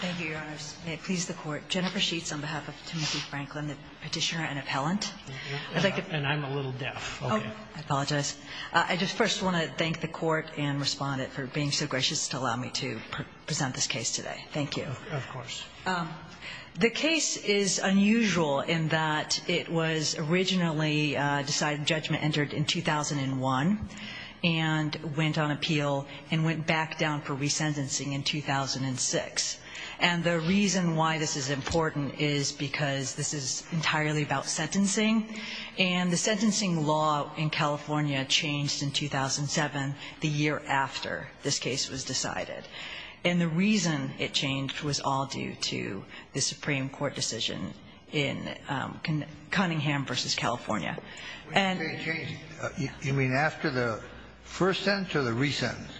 Thank you, Your Honors. May it please the Court. Jennifer Sheets on behalf of Timothy Franklin, the Petitioner and Appellant. And I'm a little deaf. I apologize. I just first want to thank the Court and Respondent for being so gracious to allow me to present this case today. Thank you. Of course. The case is unusual in that it was originally decided judgment entered in 2001 and went on appeal and went back down for resentencing in 2006. And the reason why this is important is because this is entirely about sentencing. And the sentencing law in California changed in 2007, the year after this case was decided. And the reason it changed was all due to the Supreme Court decision in Cunningham v. California. And the reason it changed, you mean after the first sentence or the resentence?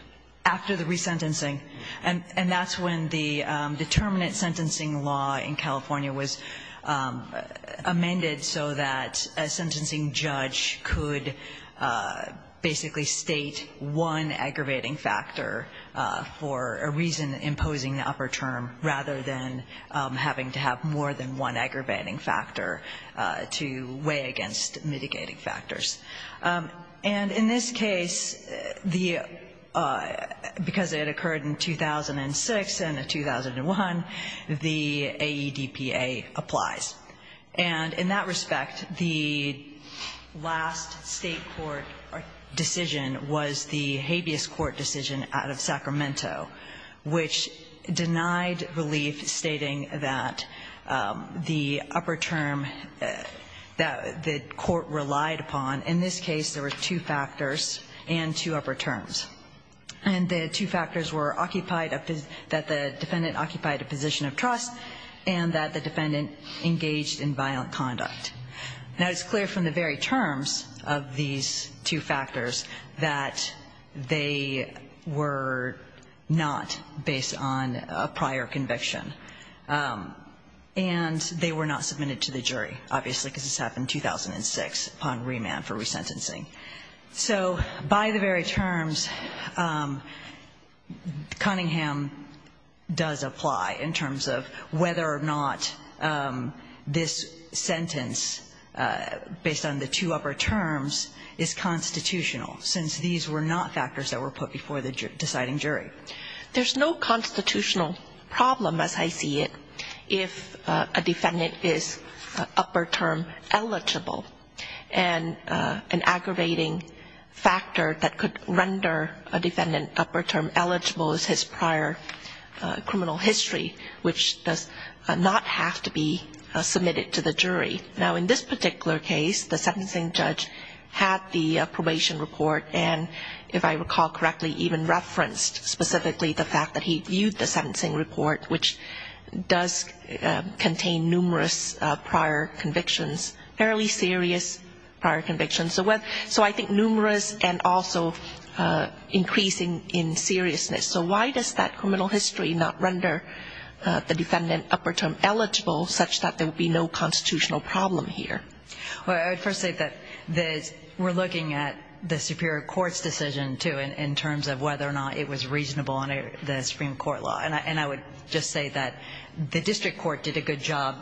After the resentencing. And that's when the determinant sentencing law in California was amended so that a sentencing judge could basically state one aggravating factor for a reason imposing the upper term rather than having to have more than one aggravating factor to weigh against mitigating factors. And in this case, because it occurred in 2006 and in 2001, the AEDPA applies. And in that respect, the last state court decision was the habeas court decision out of Sacramento, which denied relief stating that the upper term that the court relied upon, in this case there were two factors and two upper terms. And the two factors were occupied, that the defendant occupied a position of trust and that the defendant engaged in violent conduct. Now, it's clear from the very terms of these two factors that they were not based on a prior conviction. And they were not submitted to the jury, obviously, because this happened in 2006 upon remand for resentencing. So by the very terms, Cunningham does apply in terms of whether or not this sentence based on the two upper terms is constitutional, since these were not factors that were put before the deciding jury. There's no constitutional problem, as I see it, if a defendant is upper term eligible. And an aggravating factor that could render a defendant upper term eligible is his prior criminal history, which does not have to be submitted to the jury. Now, in this particular case, the sentencing judge had the probation report and, if I recall correctly, even referenced specifically the fact that he viewed the sentencing report, which does contain numerous prior convictions, fairly serious prior convictions. So I think numerous and also increasing in seriousness. So why does that criminal history not render the defendant upper term eligible, such that there would be no constitutional problem here? Well, I would first say that we're looking at the superior court's decision, too, in terms of whether or not it was reasonable under the Supreme Court law. And I would just say that the district court did a good job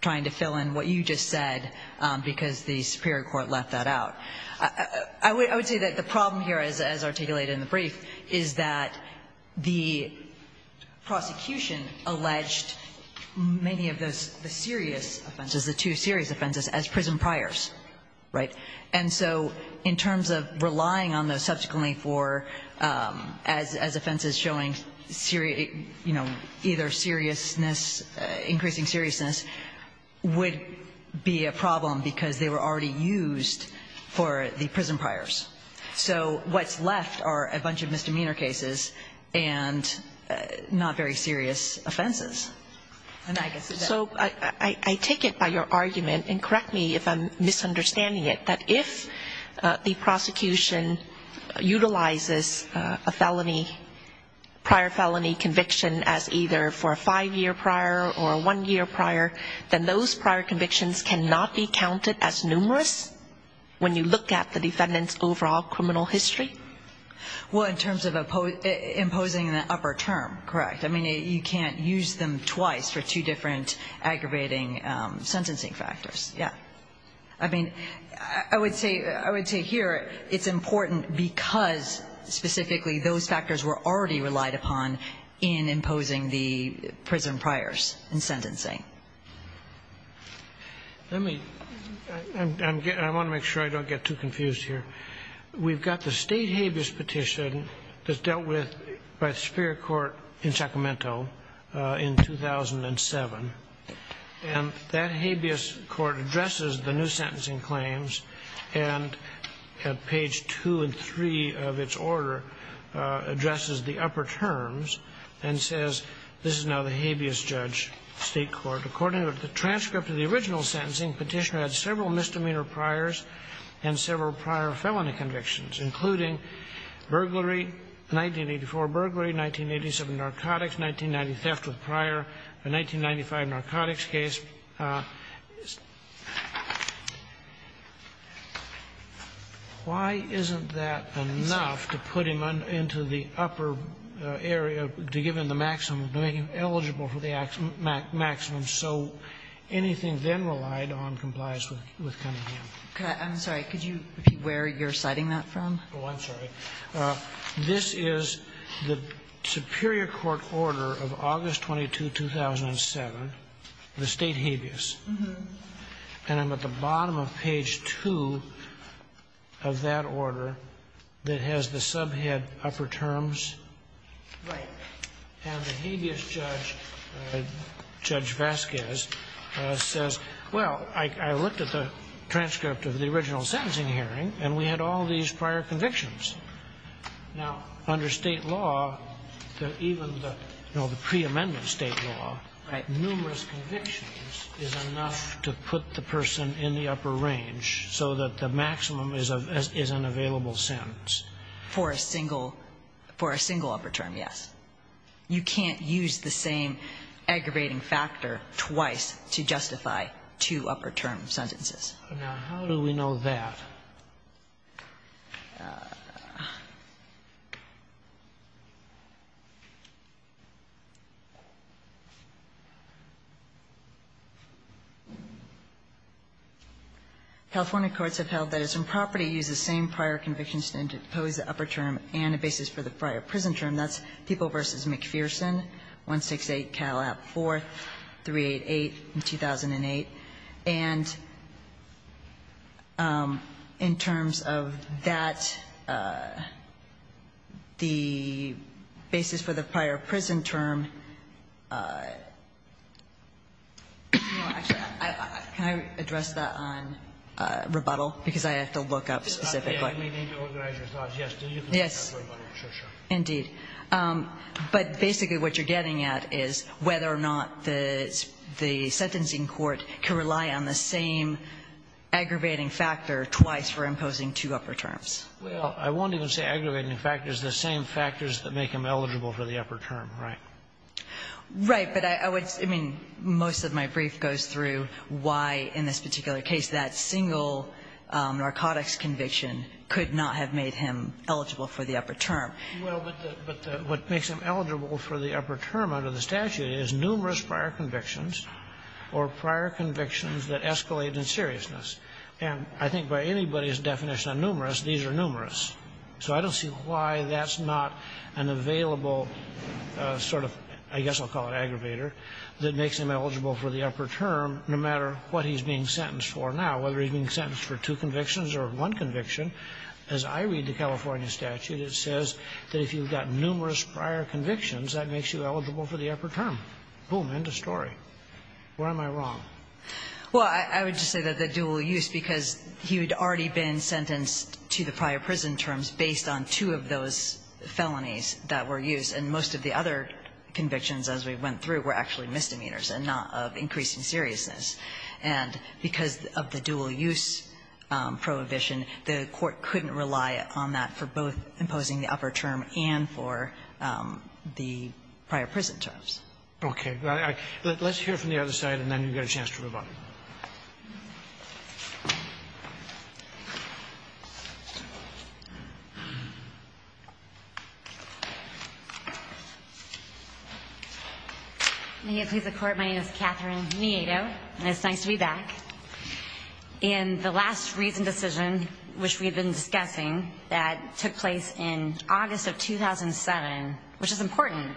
trying to fill in what you just said, because the superior court left that out. I would say that the problem here, as articulated in the brief, is that the prosecution alleged many of those serious offenses, the two serious offenses, as prison priors, right? And so in terms of relying on those subsequently for as offenses showing, you know, either seriousness, increasing seriousness, would be a problem because they were already used for the prison priors. So what's left are a bunch of misdemeanor cases and not very serious offenses. So I take it by your argument, and correct me if I'm misunderstanding it, that if the prosecution utilizes a felony, prior felony conviction, as either for a five-year prior or a one-year prior, then those prior convictions cannot be counted as numerous when you look at the defendant's overall criminal history? Well, in terms of imposing an upper term, correct. I mean, you can't use them twice for two different aggravating sentencing factors. Yeah. I mean, I would say here it's important because, specifically, those factors were already relied upon in imposing the prison priors in sentencing. Let me ‑‑ I want to make sure I don't get too confused here. We've got the state habeas petition that's dealt with by the Superior Court in Sacramento in 2007, and that habeas court addresses the new sentencing claims, and at page 2 and 3 of its order, addresses the upper terms and says, this is now the habeas judge state court. According to the transcript of the original sentencing, Petitioner had several misdemeanor priors and several prior felony convictions, including burglary, 1984 burglary, 1987 narcotics, 1990 theft with prior, a 1995 narcotics case. Why isn't that enough to put him into the upper area, to give him the maximum, to make him eligible for the maximum so anything then relied on complies with Cunningham? I'm sorry. Could you repeat where you're citing that from? Oh, I'm sorry. This is the Superior Court order of August 22, 2007, the state habeas. And I'm at the bottom of page 2 of that order that has the subhead upper terms. Right. And the habeas judge, Judge Vasquez, says, well, I looked at the transcript of the original sentencing hearing, and we had all these prior convictions. Now, under State law, even the preamendment State law, numerous convictions is enough to put the person in the upper range so that the maximum is an available sentence. For a single upper term, yes. You can't use the same aggravating factor twice to justify two upper term sentences. Now, how do we know that? California courts have held that it's improper to use the same prior conviction standard to impose the upper term and a basis for the prior prison term. That's People v. McPherson, 168 Cal App. 4, 388, 2008. And in terms of that, the basis for the prior prison term, no, actually, can I address that on rebuttal? Because I have to look up specifically. I may need to organize your thoughts. Yes, you can look up rebuttal. Sure, sure. Indeed. But basically what you're getting at is whether or not the sentencing court can rely on the same aggravating factor twice for imposing two upper terms. Well, I won't even say aggravating factors. The same factors that make him eligible for the upper term, right? Right. But I would say, I mean, most of my brief goes through why in this particular case that single narcotics conviction could not have made him eligible for the upper term. Well, but what makes him eligible for the upper term under the statute is numerous prior convictions or prior convictions that escalate in seriousness. And I think by anybody's definition of numerous, these are numerous. So I don't see why that's not an available sort of, I guess I'll call it aggravator, that makes him eligible for the upper term no matter what he's being sentenced for now, whether he's being sentenced for two convictions or one conviction. As I read the California statute, it says that if you've got numerous prior convictions, that makes you eligible for the upper term. Boom. End of story. Where am I wrong? Well, I would just say that the dual use, because he had already been sentenced to the prior prison terms based on two of those felonies that were used. And most of the other convictions as we went through were actually misdemeanors and not of increasing seriousness. And because of the dual use prohibition, the Court couldn't rely on that for both imposing the upper term and for the prior prison terms. Okay. Let's hear from the other side, and then you've got a chance to move on. May it please the Court. My name is Catherine Miedo, and it's nice to be back. In the last reason decision, which we've been discussing, that took place in August of 2007, which is important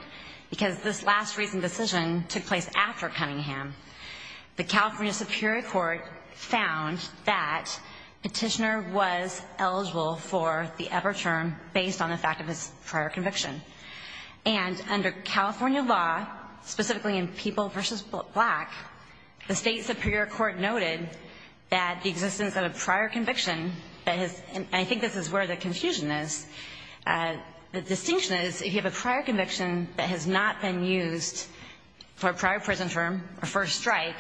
because this last reason decision took place after Cunningham, the California Superior Court found that Petitioner was eligible for the upper term based on the fact of his prior conviction. And under California law, specifically in People v. Black, the State Superior Court noted that the existence of a prior conviction, and I think this is where the confusion is, the distinction is if you have a prior conviction that has not been used for a prior prison term or for a strike,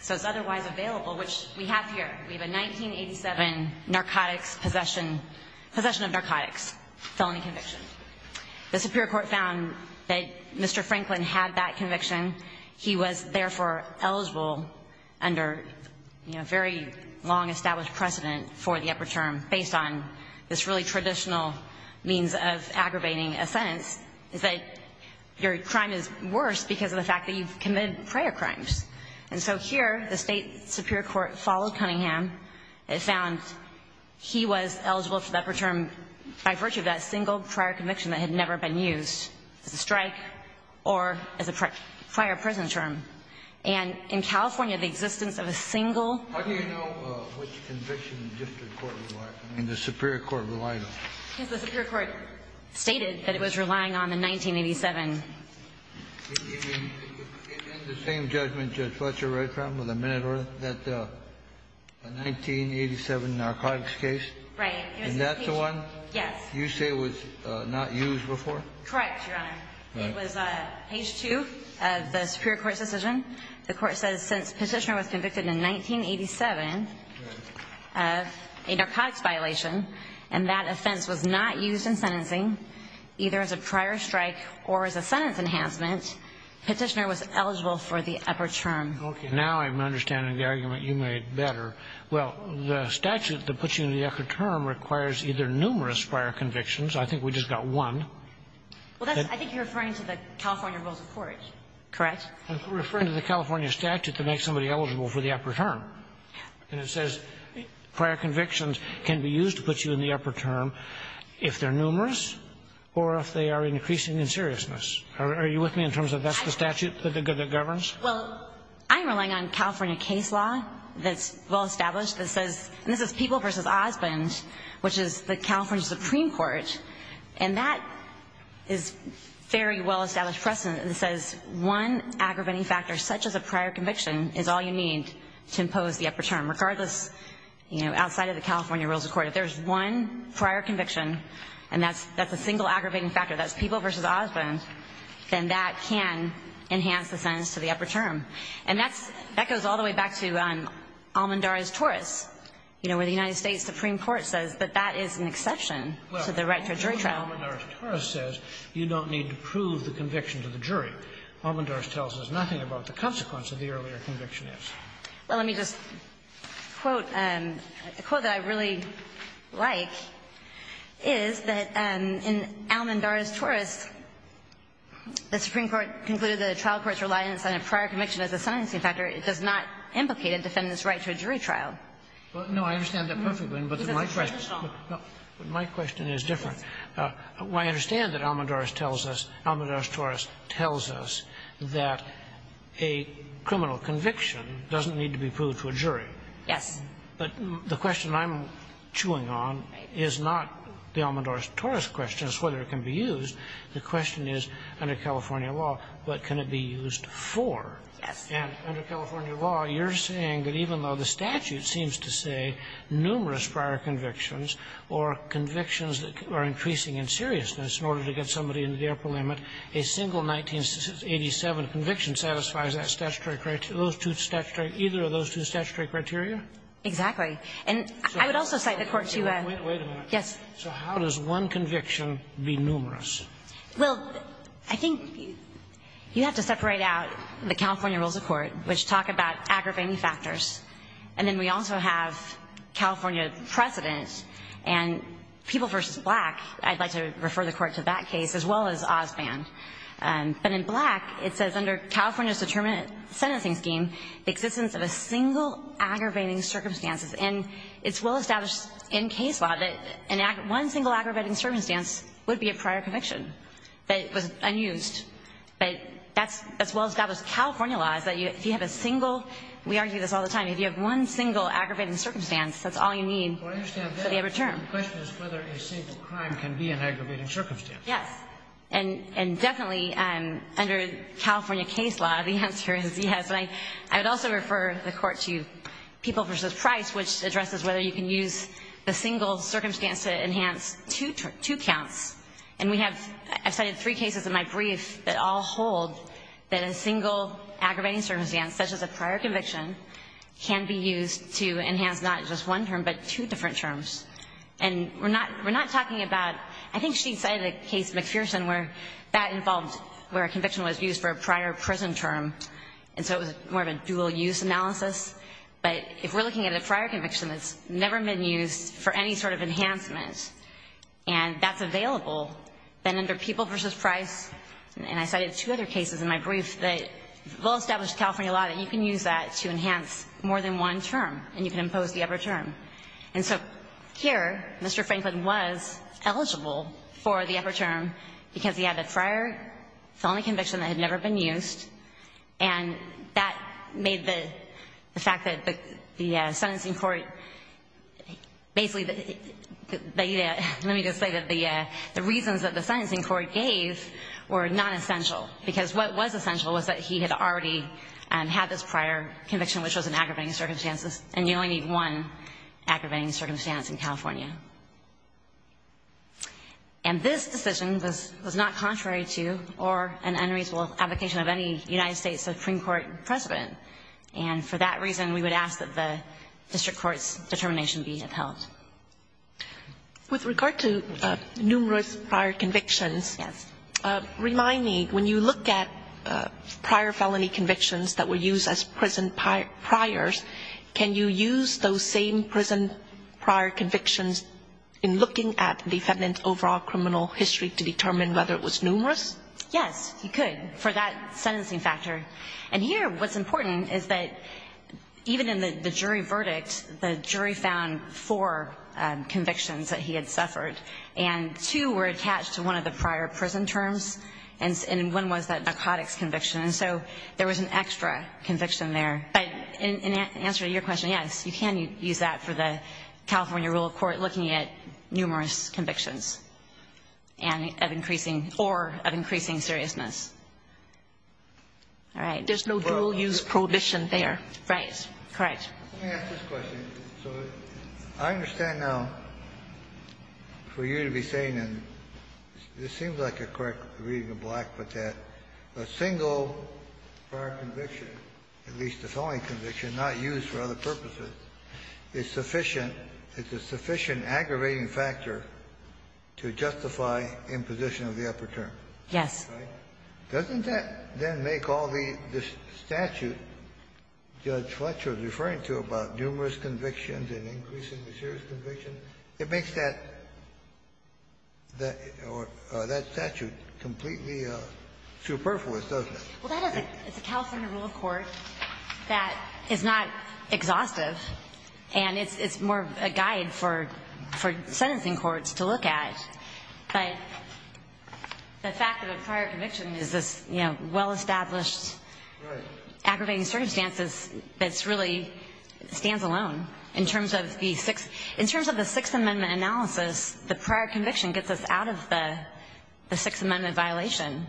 so it's otherwise available, which we have here. We have a 1987 narcotics possession, possession of narcotics felony conviction. The Superior Court found that Mr. Franklin had that conviction. He was therefore eligible under, you know, very long established precedent for the upper term based on this really traditional means of aggravating a sentence, is that your crime is worse because of the fact that you've committed prior crimes. And so here, the State Superior Court followed Cunningham. It found he was eligible for the upper term by virtue of that single prior conviction that had never been used as a strike or as a prior prison term. And in California, the existence of a single ---- How do you know which conviction the district court relied on and the Superior Court relied on? Because the Superior Court stated that it was relying on the 1987. In the same judgment, Judge Fletcher, right, with a minute or that 1987 narcotics case? Right. And that's the one? Yes. You say it was not used before? Correct, Your Honor. It was page 2 of the Superior Court's decision. The Court says since Petitioner was convicted in 1987 of a narcotics violation and that offense was not used in sentencing, either as a prior strike or as a sentence enhancement, Petitioner was eligible for the upper term. Okay. Now I'm understanding the argument you made better. Well, the statute that puts you in the upper term requires either numerous prior convictions ---- I think we just got one. Well, I think you're referring to the California Rules of Court, correct? I'm referring to the California statute that makes somebody eligible for the upper term. And it says prior convictions can be used to put you in the upper term if they're numerous or if they are increasing in seriousness. Are you with me in terms of that's the statute that governs? Well, I'm relying on California case law that's well established that says, and this is People v. Osmond, which is the California Supreme Court, and that is very well established precedent. It says one aggravating factor, such as a prior conviction, is all you need to impose the upper term, regardless, you know, outside of the California Rules of Court. If there's one prior conviction and that's a single aggravating factor, that's People v. Osmond, then that can enhance the sentence to the upper term. And that goes all the way back to Almendares-Torres, you know, where the United States Supreme Court says that that is an exception to the right to a jury trial. Almendares-Torres says you don't need to prove the conviction to the jury. Almendares tells us nothing about the consequence of the earlier conviction is. Well, let me just quote. A quote that I really like is that in Almendares-Torres, the Supreme Court concluded that a trial court's reliance on a prior conviction as a sentencing factor does not implicate a defendant's right to a jury trial. No, I understand that perfectly. But my question is different. I understand that Almendares tells us, Almendares-Torres tells us that a criminal conviction doesn't need to be proved to a jury. Yes. But the question I'm chewing on is not the Almendares-Torres question as to whether it can be used. The question is, under California law, what can it be used for? Yes. And under California law, you're saying that even though the statute seems to say that convictions are increasing in seriousness in order to get somebody into the upper limit, a single 1987 conviction satisfies that statutory criteria, either of those two statutory criteria? Exactly. And I would also cite the Court to a ---- Wait a minute. Yes. So how does one conviction be numerous? Well, I think you have to separate out the California rules of court, which talk about aggravating factors. And then we also have California precedent. And People v. Black, I'd like to refer the Court to that case, as well as Osband. But in Black, it says, under California's determinate sentencing scheme, the existence of a single aggravating circumstance. And it's well established in case law that one single aggravating circumstance would be a prior conviction, that it was unused. But that's as well established in California law, is that if you have a single ---- we argue this all the time. If you have one single aggravating circumstance, that's all you need for the Well, I understand that. But the question is whether a single crime can be an aggravating circumstance. Yes. And definitely, under California case law, the answer is yes. And I would also refer the Court to People v. Price, which addresses whether you can use a single circumstance to enhance two counts. And we have ---- I've cited three cases in my brief that all hold that a single aggravating circumstance, such as a prior conviction, can be used to enhance not just one term, but two different terms. And we're not talking about ---- I think she cited a case, McPherson, where that involved where a conviction was used for a prior prison term. And so it was more of a dual-use analysis. But if we're looking at a prior conviction that's never been used for any sort of enhancement, and that's available, then under People v. Price ---- and I cited two other cases in my brief that well-established California law that you can use that to enhance more than one term, and you can impose the upper term. And so here, Mr. Franklin was eligible for the upper term because he had a prior felony conviction that had never been used. And that made the fact that the sentencing court basically ---- let me just say that the reasons that the sentencing court gave were not essential. Because what was essential was that he had already had this prior conviction, which was an aggravating circumstance, and you only need one aggravating circumstance in California. And this decision was not contrary to or an unreasonable application of any United States Supreme Court precedent. And for that reason, we would ask that the district court's determination be upheld. With regard to numerous prior convictions. Yes. Remind me, when you look at prior felony convictions that were used as prison priors, can you use those same prison prior convictions in looking at the defendant's overall criminal history to determine whether it was numerous? Yes, you could for that sentencing factor. And here what's important is that even in the jury verdict, the jury found four convictions that he had suffered. And two were attached to one of the prior prison terms, and one was that narcotics conviction. And so there was an extra conviction there. But in answer to your question, yes, you can use that for the California rule of court looking at numerous convictions and of increasing ---- or of increasing seriousness. All right. There's no dual-use prohibition there. Right. Correct. Let me ask this question. So I understand now, for you to be saying, and this seems like a correct reading of Black, but that a single prior conviction, at least a felony conviction, not used for other purposes, is sufficient. It's a sufficient aggravating factor to justify imposition of the upper term. Yes. Doesn't that then make all the statute Judge Fletcher is referring to about numerous convictions and increasing the serious conviction, it makes that statute completely superfluous, doesn't it? Well, that is a California rule of court that is not exhaustive. And it's more of a guide for sentencing courts to look at. But the fact of a prior conviction is this well-established aggravating circumstances that really stands alone. In terms of the Sixth Amendment analysis, the prior conviction gets us out of the Sixth Amendment violation.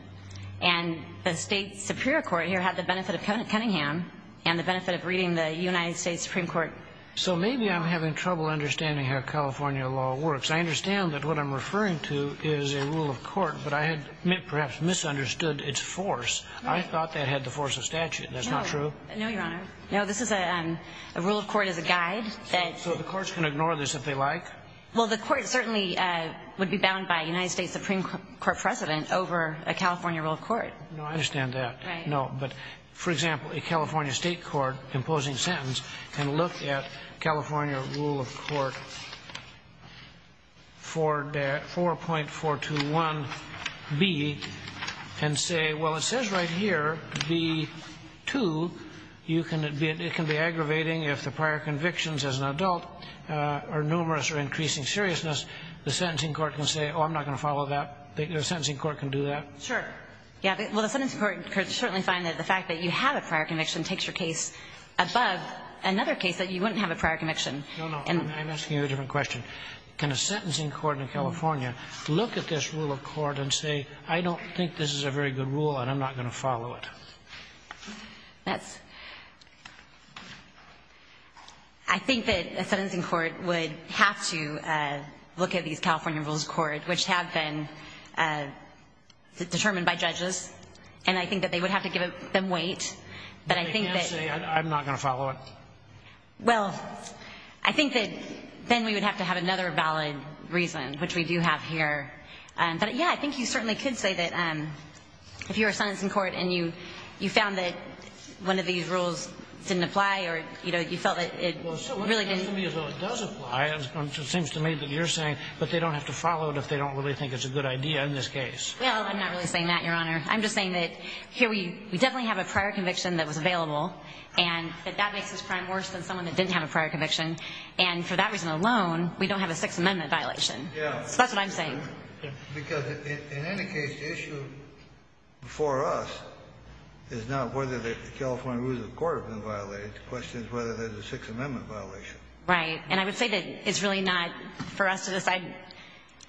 And the state superior court here had the benefit of Cunningham and the benefit of reading the United States Supreme Court. So maybe I'm having trouble understanding how California law works. I understand that what I'm referring to is a rule of court, but I had perhaps misunderstood its force. Right. I thought that had the force of statute. That's not true? No, Your Honor. No, this is a rule of court as a guide. So the courts can ignore this if they like? Well, the court certainly would be bound by a United States Supreme Court precedent over a California rule of court. No, I understand that. Right. No, but, for example, a California state court imposing sentence can look at California rule of court 4.421B and say, well, it says right here, B2, it can be aggravating if the prior convictions as an adult are numerous or increasing seriousness. The sentencing court can say, oh, I'm not going to follow that. The sentencing court can do that. Sure. Well, the sentencing court could certainly find that the fact that you have a prior conviction takes your case above another case that you wouldn't have a prior conviction. No, no. I'm asking you a different question. Can a sentencing court in California look at this rule of court and say, I don't think this is a very good rule and I'm not going to follow it? That's ‑‑ I think that a sentencing court would have to look at these California rules of court, which have been determined by judges, and I think that they would have to give them weight. But they can't say, I'm not going to follow it? Well, I think that then we would have to have another valid reason, which we do have here. But, yeah, I think you certainly could say that if you're a sentencing court and you found that one of these rules didn't apply or, you know, you felt that it really didn't apply. It seems to me that you're saying, but they don't have to follow it if they don't really think it's a good idea in this case. Well, I'm not really saying that, Your Honor. I'm just saying that here we definitely have a prior conviction that was available and that that makes this crime worse than someone that didn't have a prior conviction. And for that reason alone, we don't have a Sixth Amendment violation. Yeah. So that's what I'm saying. Because in any case, the issue for us is not whether the California rules of court have been violated. The question is whether there's a Sixth Amendment violation. Right. And I would say that it's really not for us to decide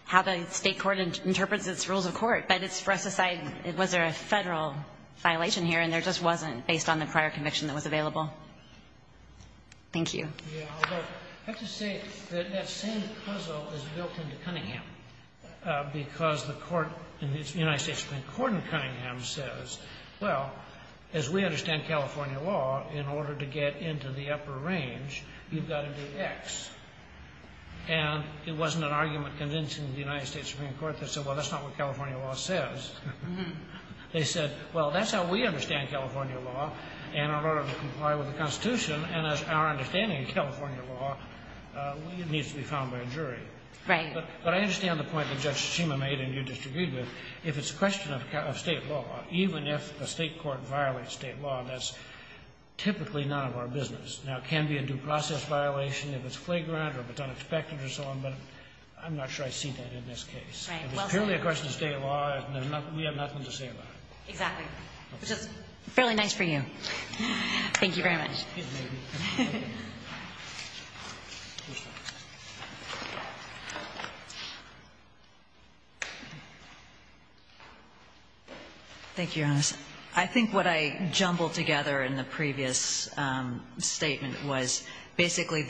how the state court interprets its rules of court. But it's for us to decide, was there a Federal violation here, and there just wasn't based on the prior conviction that was available. Thank you. Yeah. I'll go. I have to say that that same puzzle is built into Cunningham because the court in the United States Supreme Court in Cunningham says, well, as we understand California law, in order to get into the upper range, you've got to do X. And it wasn't an argument convincing the United States Supreme Court that said, well, that's not what California law says. They said, well, that's how we understand California law, and in order to comply with the Constitution and as our understanding of California law, it needs to be found by a jury. Right. But I understand the point that Judge Shima made and you disagreed with. If it's a question of state law, even if a state court violates state law, that's typically none of our business. Now, it can be a due process violation if it's flagrant or if it's unexpected or so on, but I'm not sure I've seen that in this case. Right. If it's purely a question of state law, we have nothing to say about it. Exactly. Which is fairly nice for you. Excuse me. Thank you, Your Honor. I think what I jumbled together in the previous statement was basically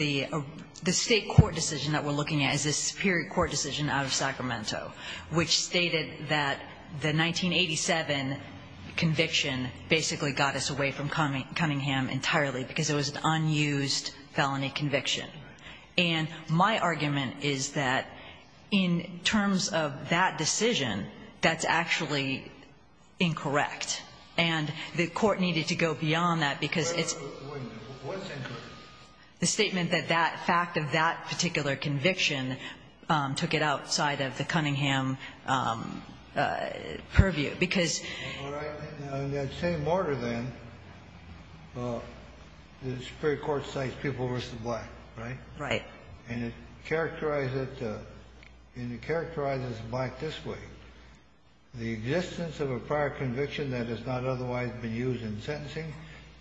the state court decision that we're looking at is a superior court decision out of Sacramento, which stated that the 1987 conviction basically got us away from Cunningham entirely because it was an unused felony conviction. Right. And my argument is that in terms of that decision, that's actually incorrect. And the court needed to go beyond that because it's the statement that that fact of that particular conviction took it outside of the Cunningham purview because All right. In that same order, then, the superior court cites people versus the black, right? Right. And it characterized it, and it characterizes the black this way. The existence of a prior conviction that has not otherwise been used in sentencing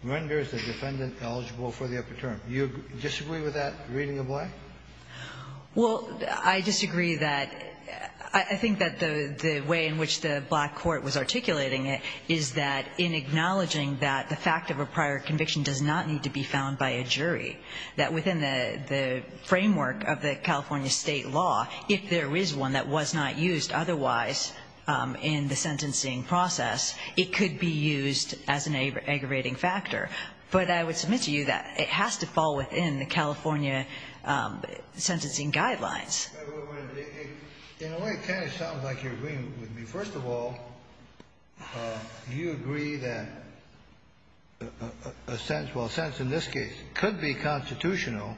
renders the defendant eligible for the upper term. Do you disagree with that reading of black? Well, I disagree that the way in which the black court was articulating it is that in acknowledging that the fact of a prior conviction does not need to be found by a jury, that within the framework of the California state law, if there is one that was not used otherwise in the sentencing process, it could be used as an aggravating factor. But I would submit to you that it has to fall within the California sentencing guidelines. In a way, it kind of sounds like you're agreeing with me. First of all, do you agree that a sentence, well, a sentence in this case could be constitutional,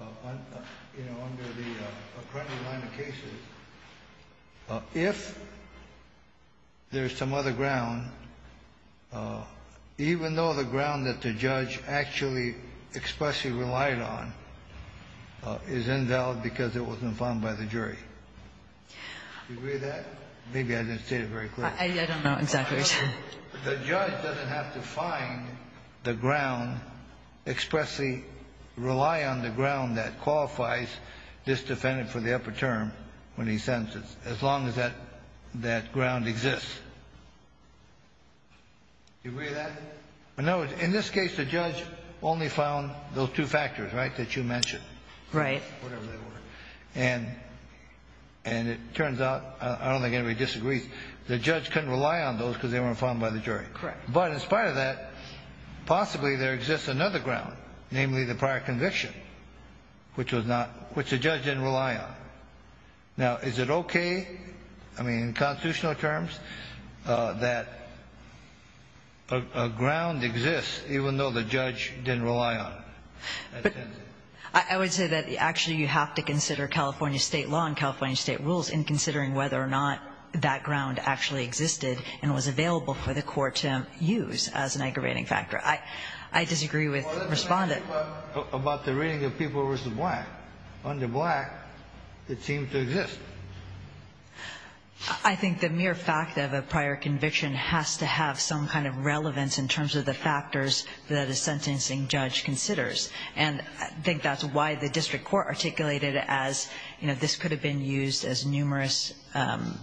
you know, under the appropriate line of cases, if there is some other ground, even though the ground that the judge actually expressly relied on is invalid because it wasn't found by the jury? Do you agree with that? Maybe I didn't state it very clearly. I don't know exactly. The judge doesn't have to find the ground, expressly rely on the ground that qualifies this defendant for the upper term when he sentences, as long as that ground exists. Do you agree with that? No. In this case, the judge only found those two factors, right, that you mentioned. Right. Whatever they were. And it turns out, I don't think anybody disagrees, the judge couldn't rely on those because they weren't found by the jury. Correct. But in spite of that, possibly there exists another ground, namely the prior conviction, which was not, which the judge didn't rely on. Now, is it okay, I mean, in constitutional terms, that a ground exists even though the judge didn't rely on it? I would say that actually you have to consider California state law and California state rules in considering whether or not that ground actually existed and was available for the court to use as an aggravating factor. I disagree with Respondent. Well, let me ask you about the reading of People v. Black. Under Black, it seems to exist. I think the mere fact of a prior conviction has to have some kind of relevance in terms of the factors that a sentencing judge considers. And I think that's why the district court articulated it as, you know, this could have been used as numerous,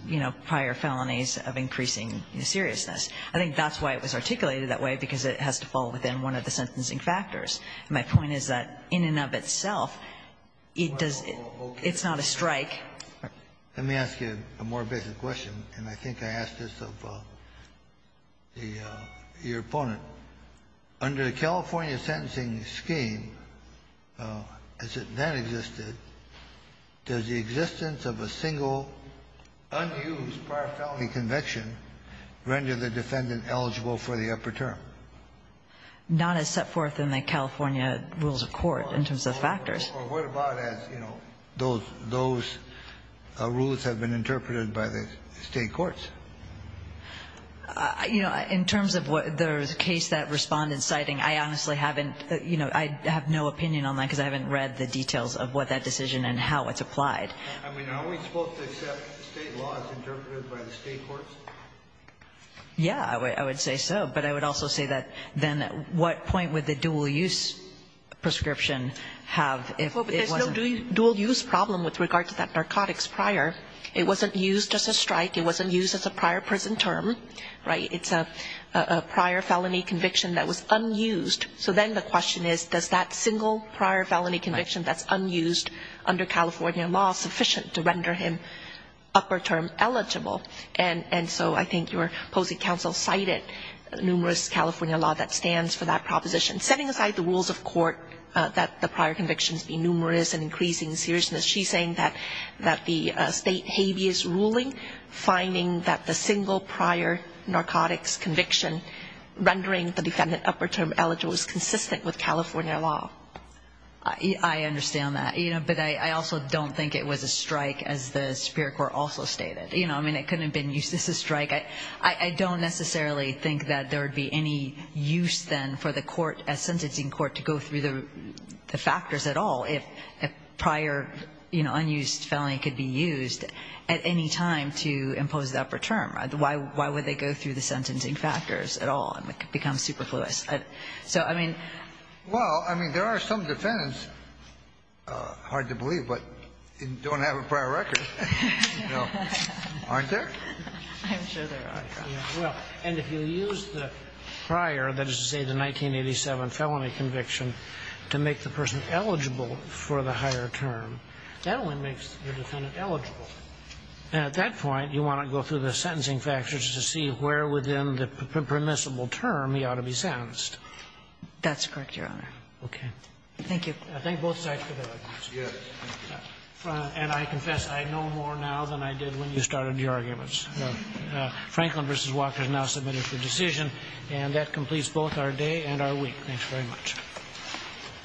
you know, prior felonies of increasing seriousness. I think that's why it was articulated that way, because it has to fall within one of the sentencing factors. My point is that in and of itself, it does not strike. Let me ask you a more basic question, and I think I asked this of your opponent. Under the California sentencing scheme, as it then existed, does the existence of a single, unused prior felony conviction render the defendant eligible for the upper term? Not as set forth in the California rules of court in terms of factors. Or what about as, you know, those rules have been interpreted by the State courts? You know, in terms of the case that Respondent's citing, I honestly haven't, you know, I have no opinion on that, because I haven't read the details of what that decision and how it's applied. I mean, aren't we supposed to accept State laws interpreted by the State courts? Yeah, I would say so. But I would also say that then at what point would the dual-use prescription have if it wasn't? Well, there's no dual-use problem with regard to that narcotics prior. It wasn't used as a strike. It wasn't used as a prior prison term. Right? It's a prior felony conviction that was unused. So then the question is, does that single prior felony conviction that's unused under California law sufficient to render him upper term eligible? And so I think your opposing counsel cited numerous California law that stands for that proposition. Setting aside the rules of court that the prior convictions be numerous and increasing seriousness, she's saying that the State habeas ruling, finding that the single prior narcotics conviction rendering the defendant upper term eligible is consistent with California law. I understand that. But I also don't think it was a strike, as the Superior Court also stated. You know, I mean, it couldn't have been used as a strike. I don't necessarily think that there would be any use then for the court, a sentencing court, to go through the factors at all if a prior, you know, unused felony could be used at any time to impose the upper term. Why would they go through the sentencing factors at all? It becomes superfluous. So, I mean. Well, I mean, there are some defendants, hard to believe, but don't have a prior record, you know. Aren't there? I'm sure there are. Well, and if you use the prior, that is to say the 1987 felony conviction, to make the person eligible for the higher term, that only makes the defendant eligible. At that point, you want to go through the sentencing factors to see where within the permissible term he ought to be sentenced. That's correct, Your Honor. Okay. Thank you. I thank both sides for their arguments. Yes. And I confess I know more now than I did when you started your arguments. Franklin v. Walker is now submitted for decision, and that completes both our day and our week. Thanks very much.